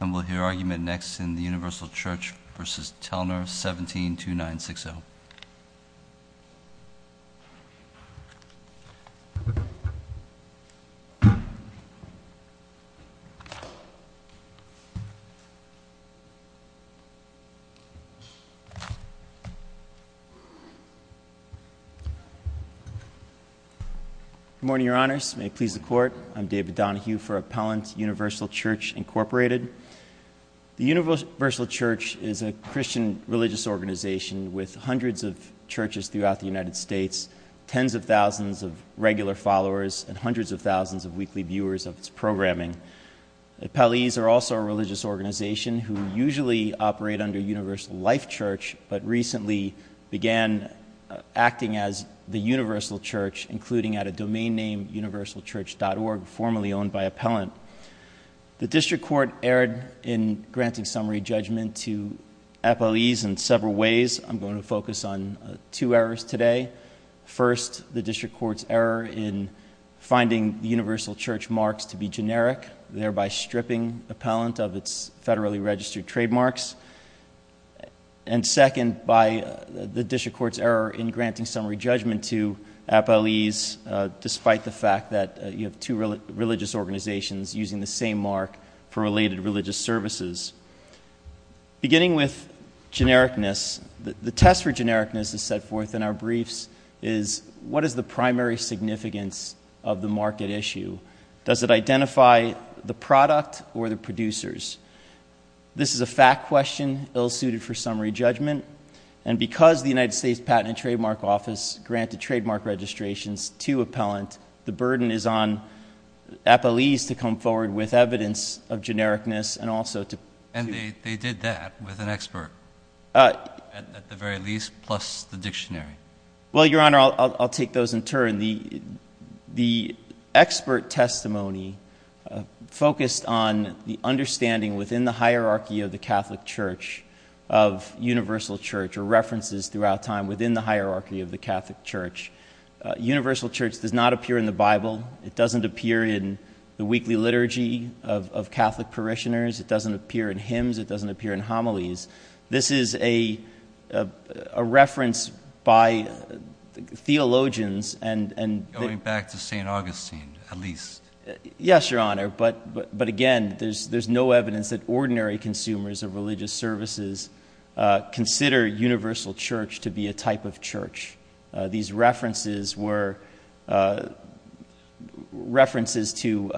And we'll hear argument next in the Universal Church v. Telner, 172960. Good morning, Your Honors, and may it please the Court, I'm David Donohue for Appellant Universal Church, Incorporated. The Universal Church is a Christian religious organization with hundreds of churches throughout the United States, tens of thousands of regular followers, and hundreds of thousands of weekly viewers of its programming. Appellees are also a religious organization who usually operate under Universal Life Church, but recently began acting as the Universal Church, including at a domain name, universalchurch.org, formerly owned by Appellant. The District Court erred in granting summary judgment to appellees in several ways. I'm going to focus on two errors today. First, the District Court's error in finding Universal Church marks to be generic, thereby stripping appellant of its federally registered trademarks. And second, by the District Court's error in granting summary judgment to appellees, despite the fact that you have two religious organizations using the same mark for related religious services. Beginning with genericness, the test for genericness is set forth in our briefs is, what is the primary significance of the market issue? Does it identify the product or the producers? This is a fact question, ill-suited for summary judgment, and because the United States Patent and Trademark Office granted trademark registrations to appellant, the burden is on appellees to come forward with evidence of genericness and also to... And they did that with an expert, at the very least, plus the dictionary. Well, Your Honor, I'll take those in turn. The expert testimony focused on the understanding within the hierarchy of the Catholic Church, of Universal Church, or references throughout time within the hierarchy of the Catholic Church. Universal Church does not appear in the Bible. It doesn't appear in the weekly liturgy of Catholic parishioners. It doesn't appear in hymns. It doesn't appear in homilies. This is a reference by theologians and... Going back to St. Augustine, at least. Yes, Your Honor, but again, there's no evidence that ordinary consumers of religious services consider Universal Church to be a type of church. These references were references to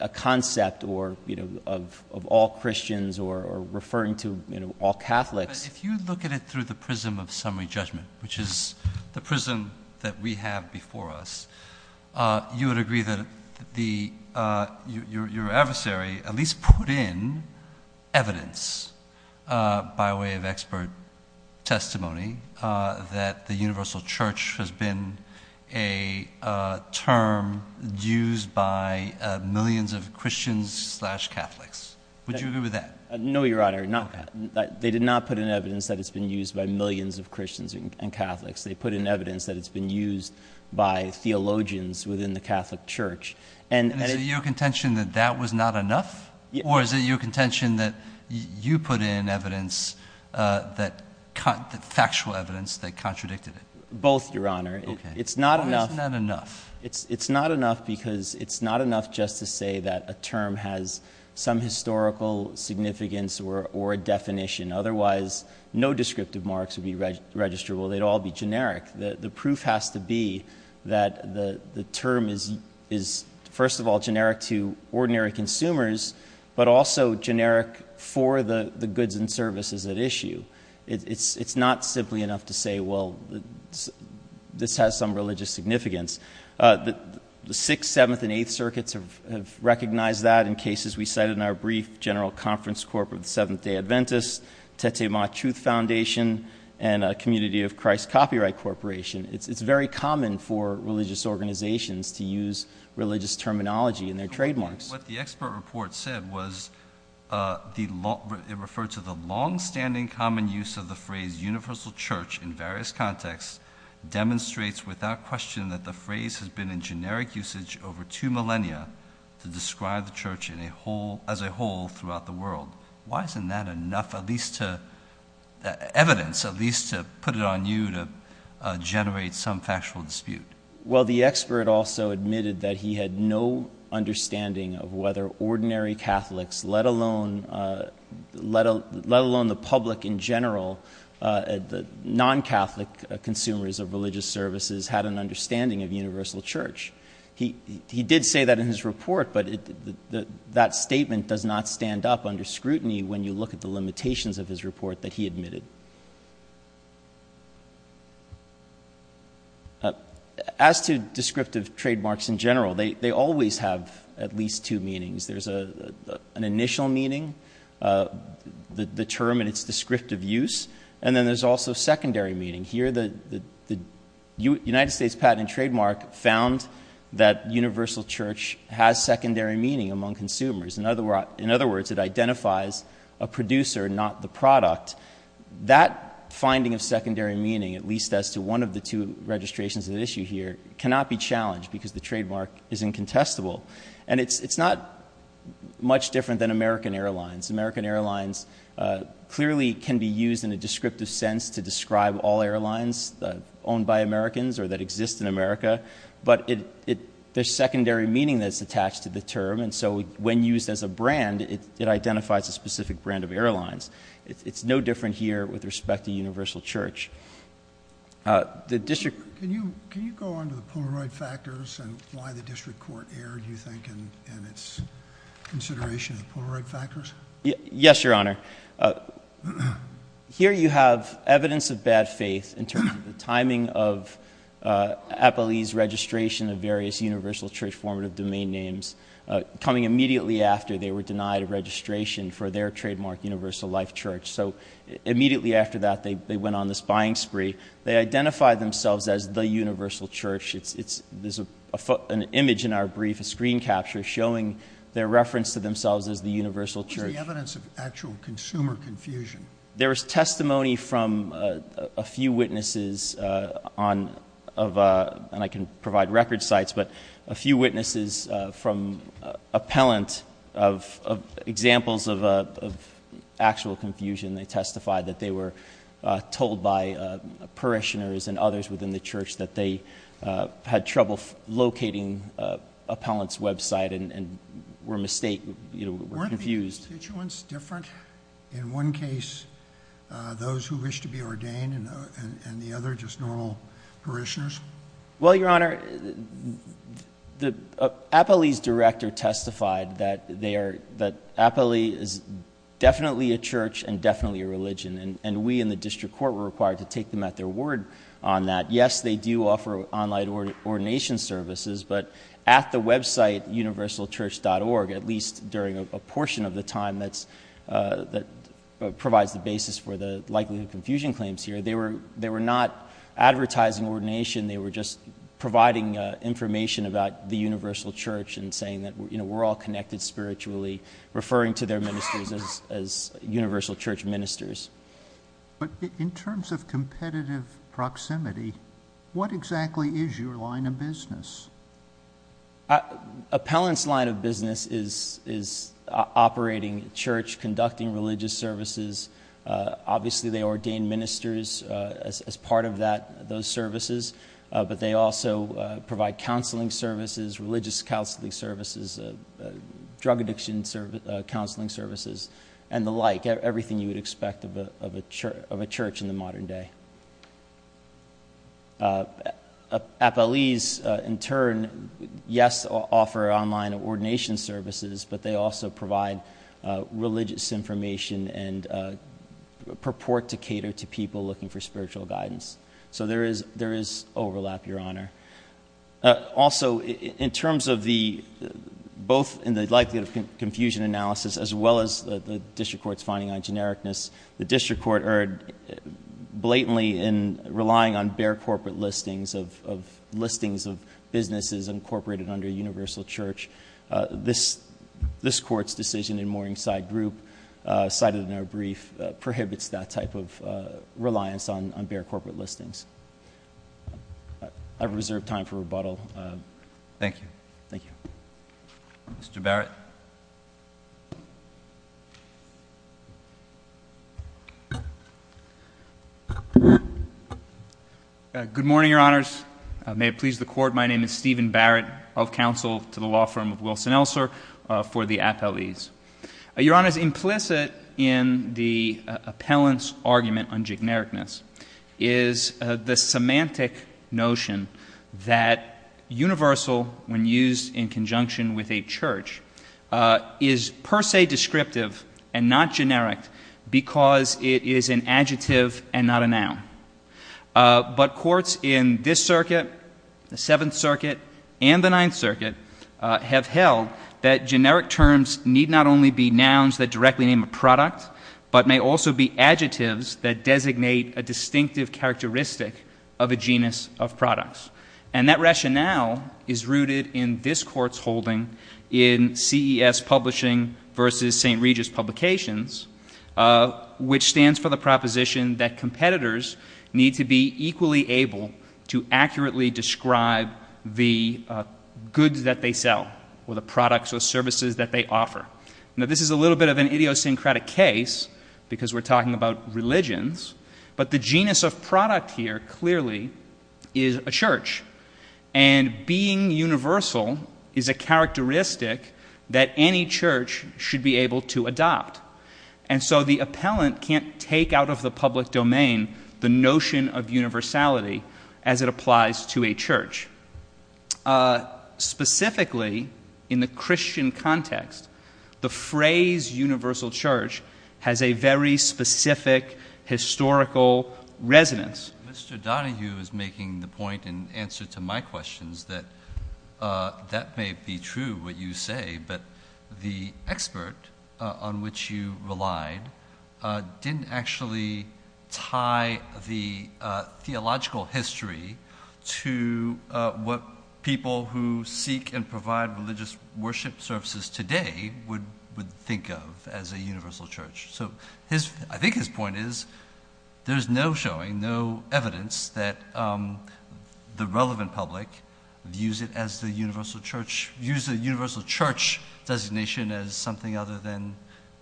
a concept of all Christians or referring to all Catholics. If you look at it through the prism of summary judgment, which is the prism that we have before us, you would agree that your adversary at least put in evidence by way of expert testimony that the Universal Church has been a term used by millions of Christians slash Catholics. Would you agree with that? No, Your Honor, not that. They did not put in evidence that it's been used by millions of Christians and Catholics. They put in evidence that it's been used by theologians within the Catholic Church. Is it your contention that that was not enough or is it your contention that you put in factual evidence that contradicted it? Both, Your Honor. It's not enough. Okay. Why isn't that enough? It's not enough because it's not enough just to say that a term has some historical significance or a definition. Otherwise, no descriptive marks would be registrable. They'd all be generic. The proof has to be that the term is, first of all, generic to ordinary consumers, but also generic for the goods and services at issue. It's not simply enough to say, well, this has some religious significance. The Sixth, Seventh, and Eighth Circuits have recognized that in cases we cited in our brief General Conference Corp of the Seventh-day Adventists, Teteh-Ma-Chuth Foundation, and a community of Christ Copyright Corporation. It's very common for religious organizations to use religious terminology in their trademarks. What the expert report said was it referred to the longstanding common use of the phrase universal church in various contexts demonstrates without question that the phrase has been in generic usage over two millennia to describe the church as a whole throughout the world. Why isn't that enough evidence, at least, to put it on you to generate some factual dispute? Well, the expert also admitted that he had no understanding of whether ordinary Catholics, let alone the public in general, non-Catholic consumers of religious services, had an understanding of universal church. He did say that in his report, but that statement does not stand up under scrutiny when you look at the limitations of his report that he admitted. As to descriptive trademarks in general, they always have at least two meanings. There's an initial meaning, the term and its descriptive use, and then there's also secondary meaning. Here, the United States patent and trademark found that universal church has secondary meaning among consumers. In other words, it identifies a producer, not the product. That finding of secondary meaning, at least as to one of the two registrations at issue here, cannot be challenged because the trademark is incontestable. It's not much different than American Airlines. American Airlines clearly can be used in a descriptive sense to describe all airlines owned by Americans or that exist in America, but there's secondary meaning that's attached to the term, and so when used as a brand, it identifies a specific brand of airlines. It's no different here with respect to universal church. The district- Can you go on to the Polaroid factors and why the district court erred, you think, in its consideration of Polaroid factors? Yes, Your Honor. Here you have evidence of bad faith in terms of the timing of Applee's registration of various universal church formative domain names coming immediately after they were denied a registration for their trademark, Universal Life Church. So immediately after that, they went on this buying spree. They identified themselves as the universal church. There's an image in our brief, a screen capture, showing their reference to themselves as the universal church. Is the evidence of actual consumer confusion? There is testimony from a few witnesses on, and I can provide record sites, but a few witnesses from appellant of examples of actual confusion. They testified that they were told by parishioners and others within the church that they had trouble locating appellant's website and were confused. Weren't the constituents different? In one case, those who wish to be ordained, and the other just normal parishioners? Well, Your Honor, Applee's director testified that Applee is definitely a church and definitely a religion. And we in the district court were required to take them at their word on that. Yes, they do offer online ordination services, but at the website universalchurch.org, at least during a portion of the time that provides the basis for the likelihood of confusion claims here, they were not advertising ordination. They were just providing information about the universal church and saying that we're all connected spiritually, referring to their ministers as universal church ministers. But in terms of competitive proximity, what exactly is your line of business? Appellant's line of business is operating church, conducting religious services. Obviously, they ordain ministers as part of those services, but they also provide counseling services, religious counseling services, drug addiction counseling services, and the like. Everything you would expect of a church in the modern day. Appellee's, in turn, yes, offer online ordination services, but they also provide religious information and purport to cater to people looking for spiritual guidance. So there is overlap, Your Honor. Also, in terms of the, both in the likelihood of confusion analysis, as well as the district court's finding on genericness, the district court erred blatantly in relying on bare corporate listings of listings of businesses incorporated under universal church, this court's decision in favor of corporate listings, I've reserved time for rebuttal. Thank you. Thank you. Mr. Barrett. Good morning, Your Honors. May it please the court, my name is Stephen Barrett of counsel to the law firm of Wilson-Elser for the appellees. Your Honor, it's implicit in the appellant's argument on genericness. Is the semantic notion that universal, when used in conjunction with a church, is per se descriptive and not generic because it is an adjective and not a noun. But courts in this circuit, the Seventh Circuit, and the Ninth Circuit have held that generic terms need not only be nouns that directly name a product, but may also be adjectives that designate a distinctive characteristic of a genus of products. And that rationale is rooted in this court's holding in CES Publishing versus St. Regis Publications, which stands for the proposition that competitors need to be equally able to accurately describe the goods that they sell, or the products or services that they offer. Now this is a little bit of an idiosyncratic case, because we're talking about religions, but the genus of product here clearly is a church. And being universal is a characteristic that any church should be able to adopt. And so the appellant can't take out of the public domain the notion of universality as it applies to a church. Specifically, in the Christian context, the phrase universal church has a very specific historical resonance. Mr. Donahue is making the point in answer to my questions that that may be true, what you say, but the expert on which you relied didn't actually tie the theological history to what people who seek and provide religious worship services today would think of as a universal church. So I think his point is, there's no showing, no evidence that the relevant public views it as the universal church, views the universal church designation as something other than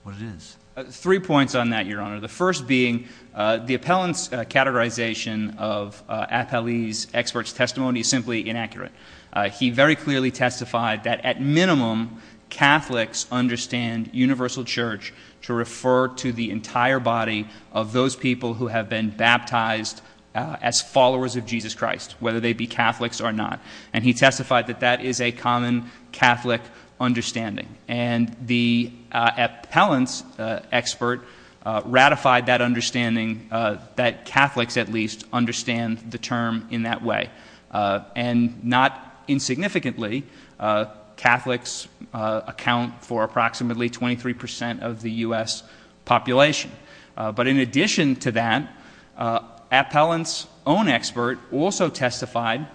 what it is. Three points on that, your honor. The first being, the appellant's categorization of appellee's expert's testimony is simply inaccurate. He very clearly testified that at minimum, Catholics understand universal church to refer to the entire body of those people who have been baptized as followers of Jesus Christ, whether they be Catholics or not. And he testified that that is a common Catholic understanding. And the appellant's expert ratified that understanding that Catholics at least understand the term in that way. And not insignificantly, Catholics account for approximately 23% of the US population. But in addition to that, appellant's own expert also testified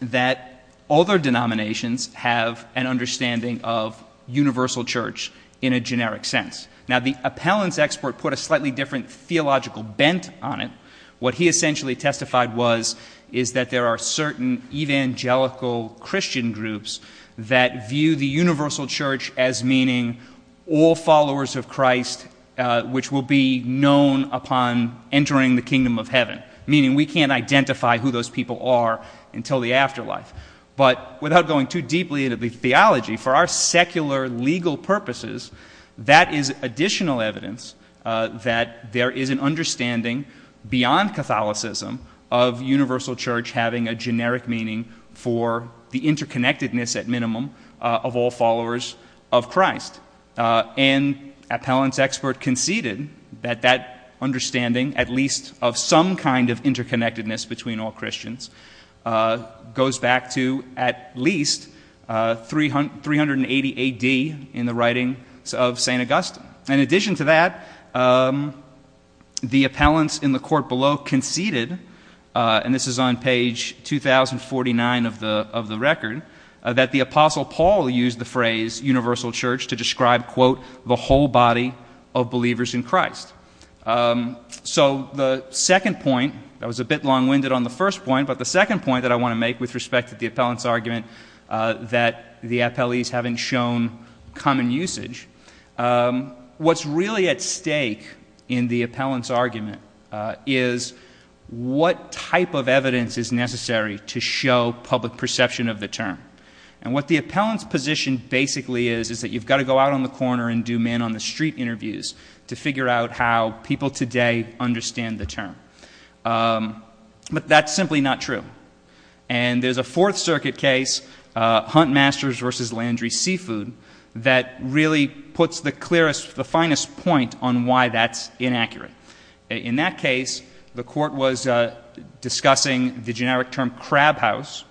that other denominations have an understanding of universal church in a generic sense. Now the appellant's expert put a slightly different theological bent on it. What he essentially testified was, is that there are certain evangelical Christian groups that view the universal church as meaning all followers of Christ, which will be known upon entering the kingdom of heaven. Meaning we can't identify who those people are until the afterlife. But without going too deeply into the theology, for our secular legal purposes, that is additional evidence that there is an understanding beyond Catholicism of universal church having a generic meaning for the interconnectedness at minimum of all followers of Christ. And appellant's expert conceded that that understanding, at least of some kind of interconnectedness between all Christians, goes back to at least 380 AD in the writings of St. Augustine. In addition to that, the appellants in the court below conceded, and this is on page 2049 of the record, that the Apostle Paul used the phrase universal church to describe, quote, the whole body of believers in Christ. So the second point, that was a bit long winded on the first point, but the second point that I want to make with respect to the appellant's argument that the appellees haven't shown common usage, what's really at stake in the appellant's argument is what type of evidence is necessary to show public perception of the term. And what the appellant's position basically is, is that you've got to go out on the corner and do man on the street interviews to figure out how people today understand the term. But that's simply not true. And there's a Fourth Circuit case, Huntmasters versus Landry Seafood, that really puts the clearest, the finest point on why that's inaccurate. In that case, the court was discussing the generic term crab house.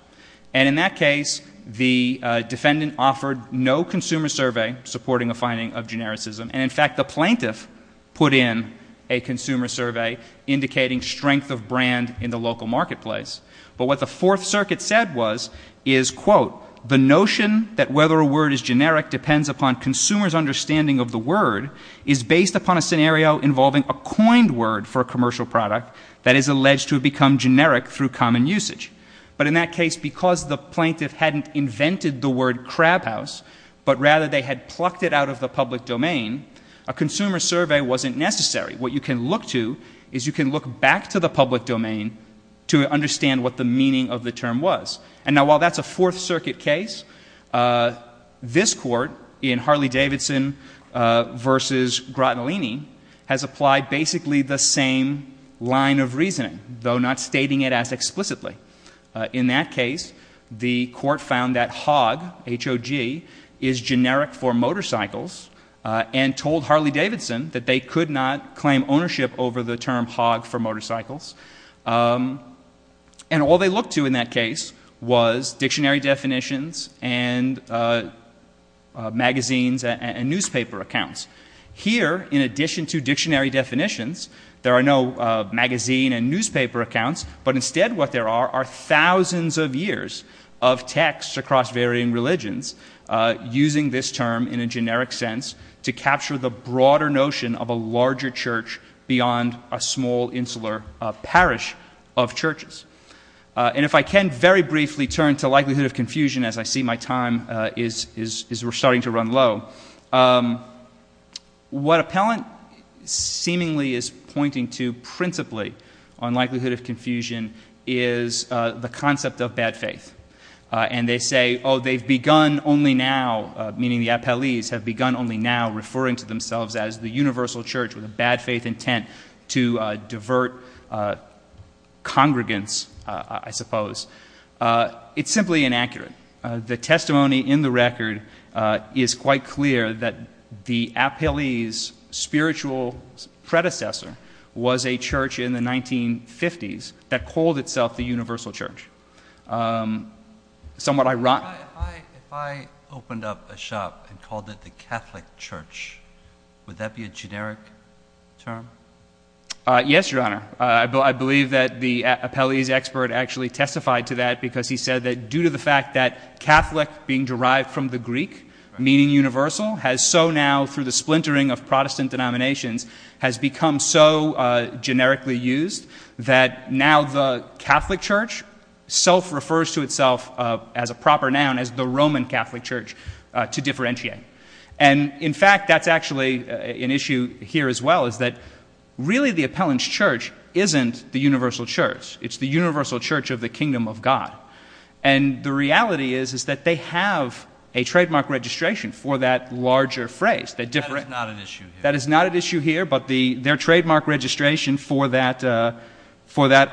And in that case, the defendant offered no consumer survey supporting a finding of genericism. And in fact, the plaintiff put in a consumer survey indicating strength of brand in the local marketplace. But what the Fourth Circuit said was, is quote, the notion that whether a word is generic depends upon consumer's understanding of the word is based upon a scenario involving a coined word for a commercial product that is alleged to have become generic through common usage. But in that case, because the plaintiff hadn't invented the word crab house, but rather they had plucked it out of the public domain, a consumer survey wasn't necessary. What you can look to is you can look back to the public domain to understand what the meaning of the term was. And now while that's a Fourth Circuit case, this court in Harley Davidson versus Grottolini has applied basically the same line of reasoning, though not stating it as explicitly. In that case, the court found that hog, H-O-G, is generic for motorcycles and told Harley Davidson that they could not claim ownership over the term hog for motorcycles. And all they looked to in that case was dictionary definitions and magazines and newspaper accounts. Here, in addition to dictionary definitions, there are no magazine and newspaper accounts. But instead what there are are thousands of years of texts across varying religions using this term in a generic sense to capture the broader notion of a larger church beyond a small insular parish of churches. And if I can very briefly turn to likelihood of confusion as I see my time is starting to run low. What appellant seemingly is pointing to principally on likelihood of confusion is the concept of bad faith. And they say, they've begun only now, meaning the appellees have begun only now referring to themselves as the universal church with a bad faith intent to divert congregants, I suppose. It's simply inaccurate. The testimony in the record is quite clear that the appellee's spiritual predecessor was a church in the 1950s that called itself the universal church. Somewhat ironic. If I opened up a shop and called it the Catholic Church, would that be a generic term? Yes, your honor. I believe that the appellee's expert actually testified to that because he said that due to the fact that Catholic being derived from the Greek, meaning universal, has so now, through the splintering of Protestant denominations, has become so known as the Roman Catholic Church to differentiate. And in fact, that's actually an issue here as well, is that really the appellant's church isn't the universal church. It's the universal church of the kingdom of God. And the reality is that they have a trademark registration for that larger phrase. That is not an issue here. That is not an issue here, but their trademark registration for that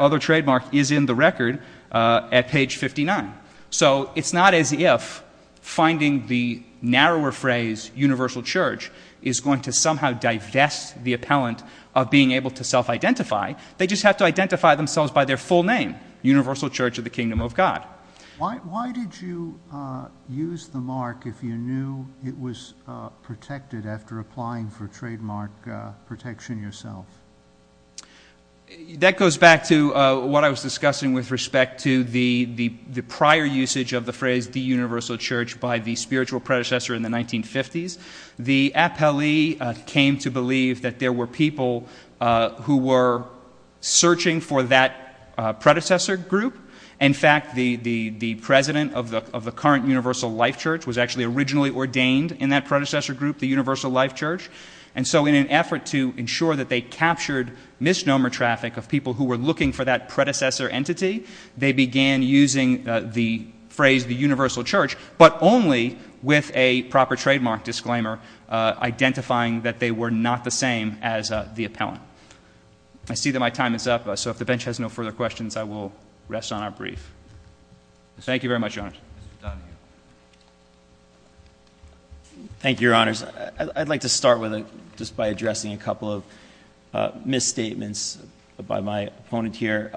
other trademark is in the record at page 59. So it's not as if finding the narrower phrase universal church is going to somehow divest the appellant of being able to self-identify. They just have to identify themselves by their full name, Universal Church of the Kingdom of God. Why did you use the mark if you knew it was protected after applying for trademark protection yourself? That goes back to what I was discussing with respect to the prior usage of the phrase the universal church by the spiritual predecessor in the 1950s. The appellee came to believe that there were people who were searching for that predecessor group. In fact, the president of the current Universal Life Church was actually originally ordained in that predecessor group, the Universal Life Church. And so in an effort to ensure that they captured misnomer traffic of people who were looking for that predecessor entity, they began using the phrase the universal church, but only with a proper trademark disclaimer, identifying that they were not the same as the appellant. I see that my time is up, so if the bench has no further questions, I will rest on our brief. Thank you very much, Your Honors. Mr. Donahue. Thank you, Your Honors. I'd like to start with just by addressing a couple of misstatements by my opponent here.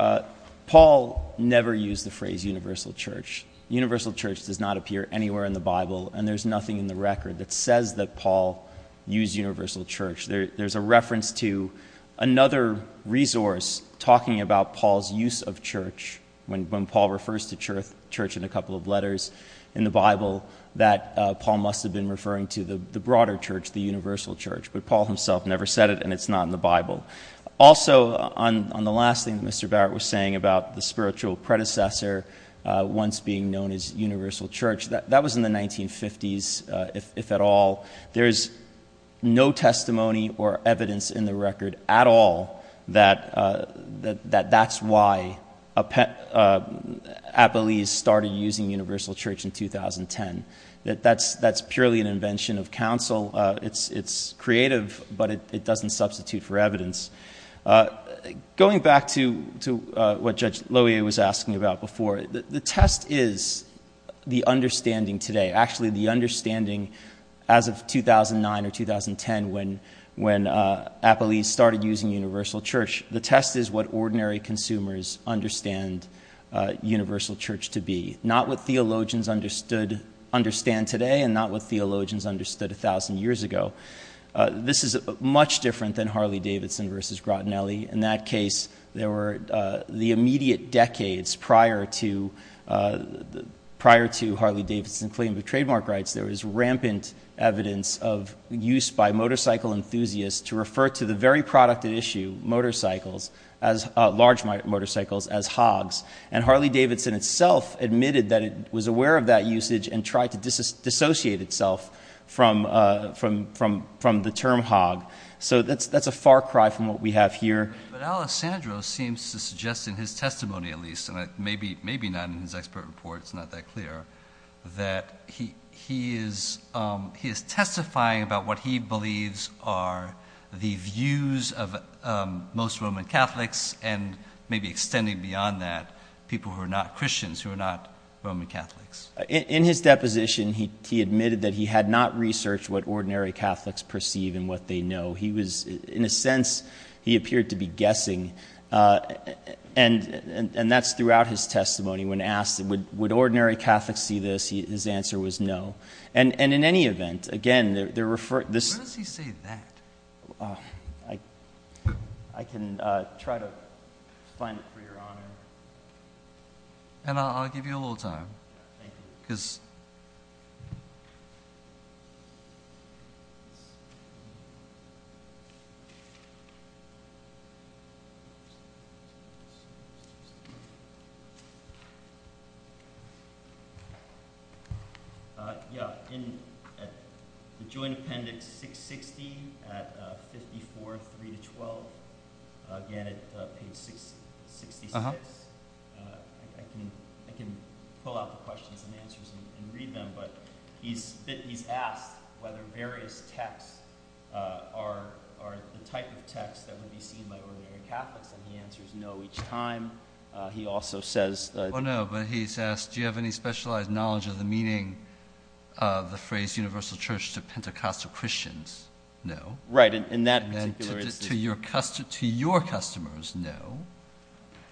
Paul never used the phrase universal church. Universal church does not appear anywhere in the Bible, and there's nothing in the record that says that Paul used universal church. There's a reference to another resource talking about Paul's use of church. When Paul refers to church in a couple of letters in the Bible, that Paul must have been referring to the broader church, the universal church. But Paul himself never said it, and it's not in the Bible. Also, on the last thing that Mr. Barrett was saying about the spiritual predecessor, once being known as universal church, that was in the 1950s, if at all. There's no testimony or evidence in the record at all that that's why Apolles started using universal church in 2010. That's purely an invention of counsel. It's creative, but it doesn't substitute for evidence. Going back to what Judge Loewe was asking about before, the test is the understanding today. Actually, the understanding as of 2009 or 2010 when Apolles started using universal church. The test is what ordinary consumers understand universal church to be. Not what theologians understand today and not what theologians understood 1,000 years ago. This is much different than Harley-Davidson versus Grottinelli. In that case, there were the immediate decades prior to Harley-Davidson claim of trademark rights. There was rampant evidence of use by motorcycle enthusiasts to refer to the very product at issue, motorcycles, large motorcycles as hogs. And Harley-Davidson itself admitted that it was aware of that usage and tried to dissociate itself from the term hog. So that's a far cry from what we have here. Maybe not in his expert report, it's not that clear. That he is testifying about what he believes are the views of most Roman Catholics and maybe extending beyond that, people who are not Christians, who are not Roman Catholics. In his deposition, he admitted that he had not researched what ordinary Catholics perceive and what they know. He was, in a sense, he appeared to be guessing. And that's throughout his testimony when asked, would ordinary Catholics see this? His answer was no. And in any event, again, they're referring to this- Where does he say that? I can try to find it for your honor. And I'll give you a little time, because I don't know if you can see it. Yeah, in the Joint Appendix 660 at 54, 3 to 12. Again, at page 66, I can pull out the questions and answers and read them. But he's asked whether various texts are the type of texts that he answers no each time. He also says- Well, no, but he's asked, do you have any specialized knowledge of the meaning of the phrase universal church to Pentecostal Christians? No. Right, and that in particular is- To your customers, no,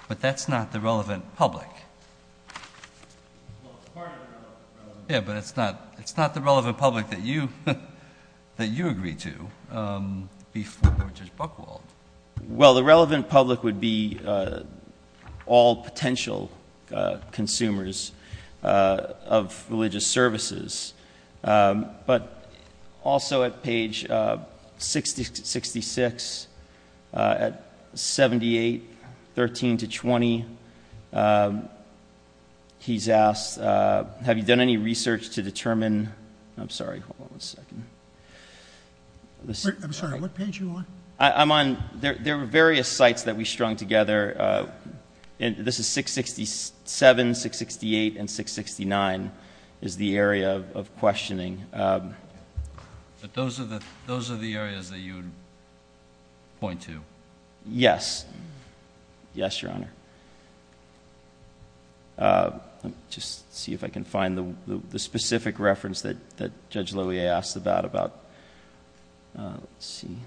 but that's not the relevant public. Yeah, but it's not the relevant public that you agree to before Judge Buchwald. Well, the relevant public would be all potential consumers of religious services. But also at page 66, at 78, 13 to 20, he's asked, have you done any research to determine, I'm sorry, hold on a second. I'm sorry, what page are you on? I'm on, there were various sites that we strung together. And this is 667, 668, and 669 is the area of questioning. But those are the areas that you point to? Yes, yes, your honor. Just see if I can find the specific reference that Judge Loewe asked about. Let's see.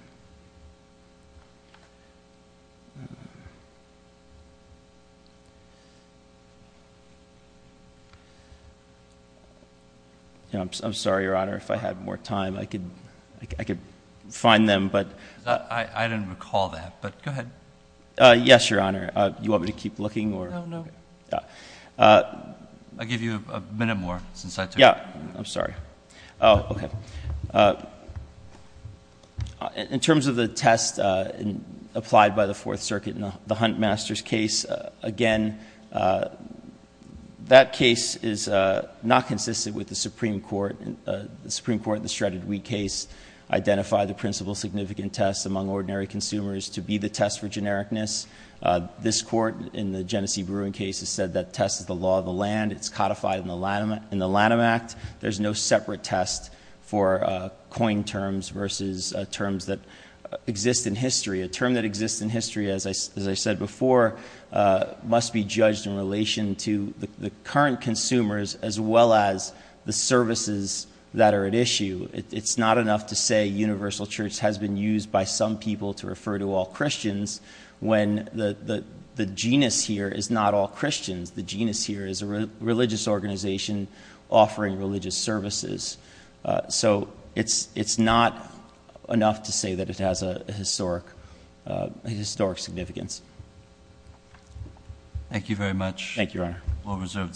I'm sorry, your honor, if I had more time I could find them, but- I didn't recall that, but go ahead. Yes, your honor, do you want me to keep looking or- No, no. Yeah. I'll give you a minute more since I took- Yeah, I'm sorry. Okay. In terms of the test applied by the Fourth Circuit in the Huntmasters case, again, that case is not consistent with the Supreme Court. The Supreme Court in the Shredded Wheat case identified the principle significant test among ordinary consumers to be the test for genericness. This court in the Genesee Brewing case has said that test is the law of the land. It's codified in the Lanham Act. There's no separate test for coin terms versus terms that exist in history. A term that exists in history, as I said before, must be judged in relation to the current consumers as well as the services that are at issue. It's not enough to say universal church has been used by some people to refer to all Christians when the genus here is not all Christians. The genus here is a religious organization offering religious services. It's not enough to say that it has a historic significance. Thank you very much. Thank you, Your Honor.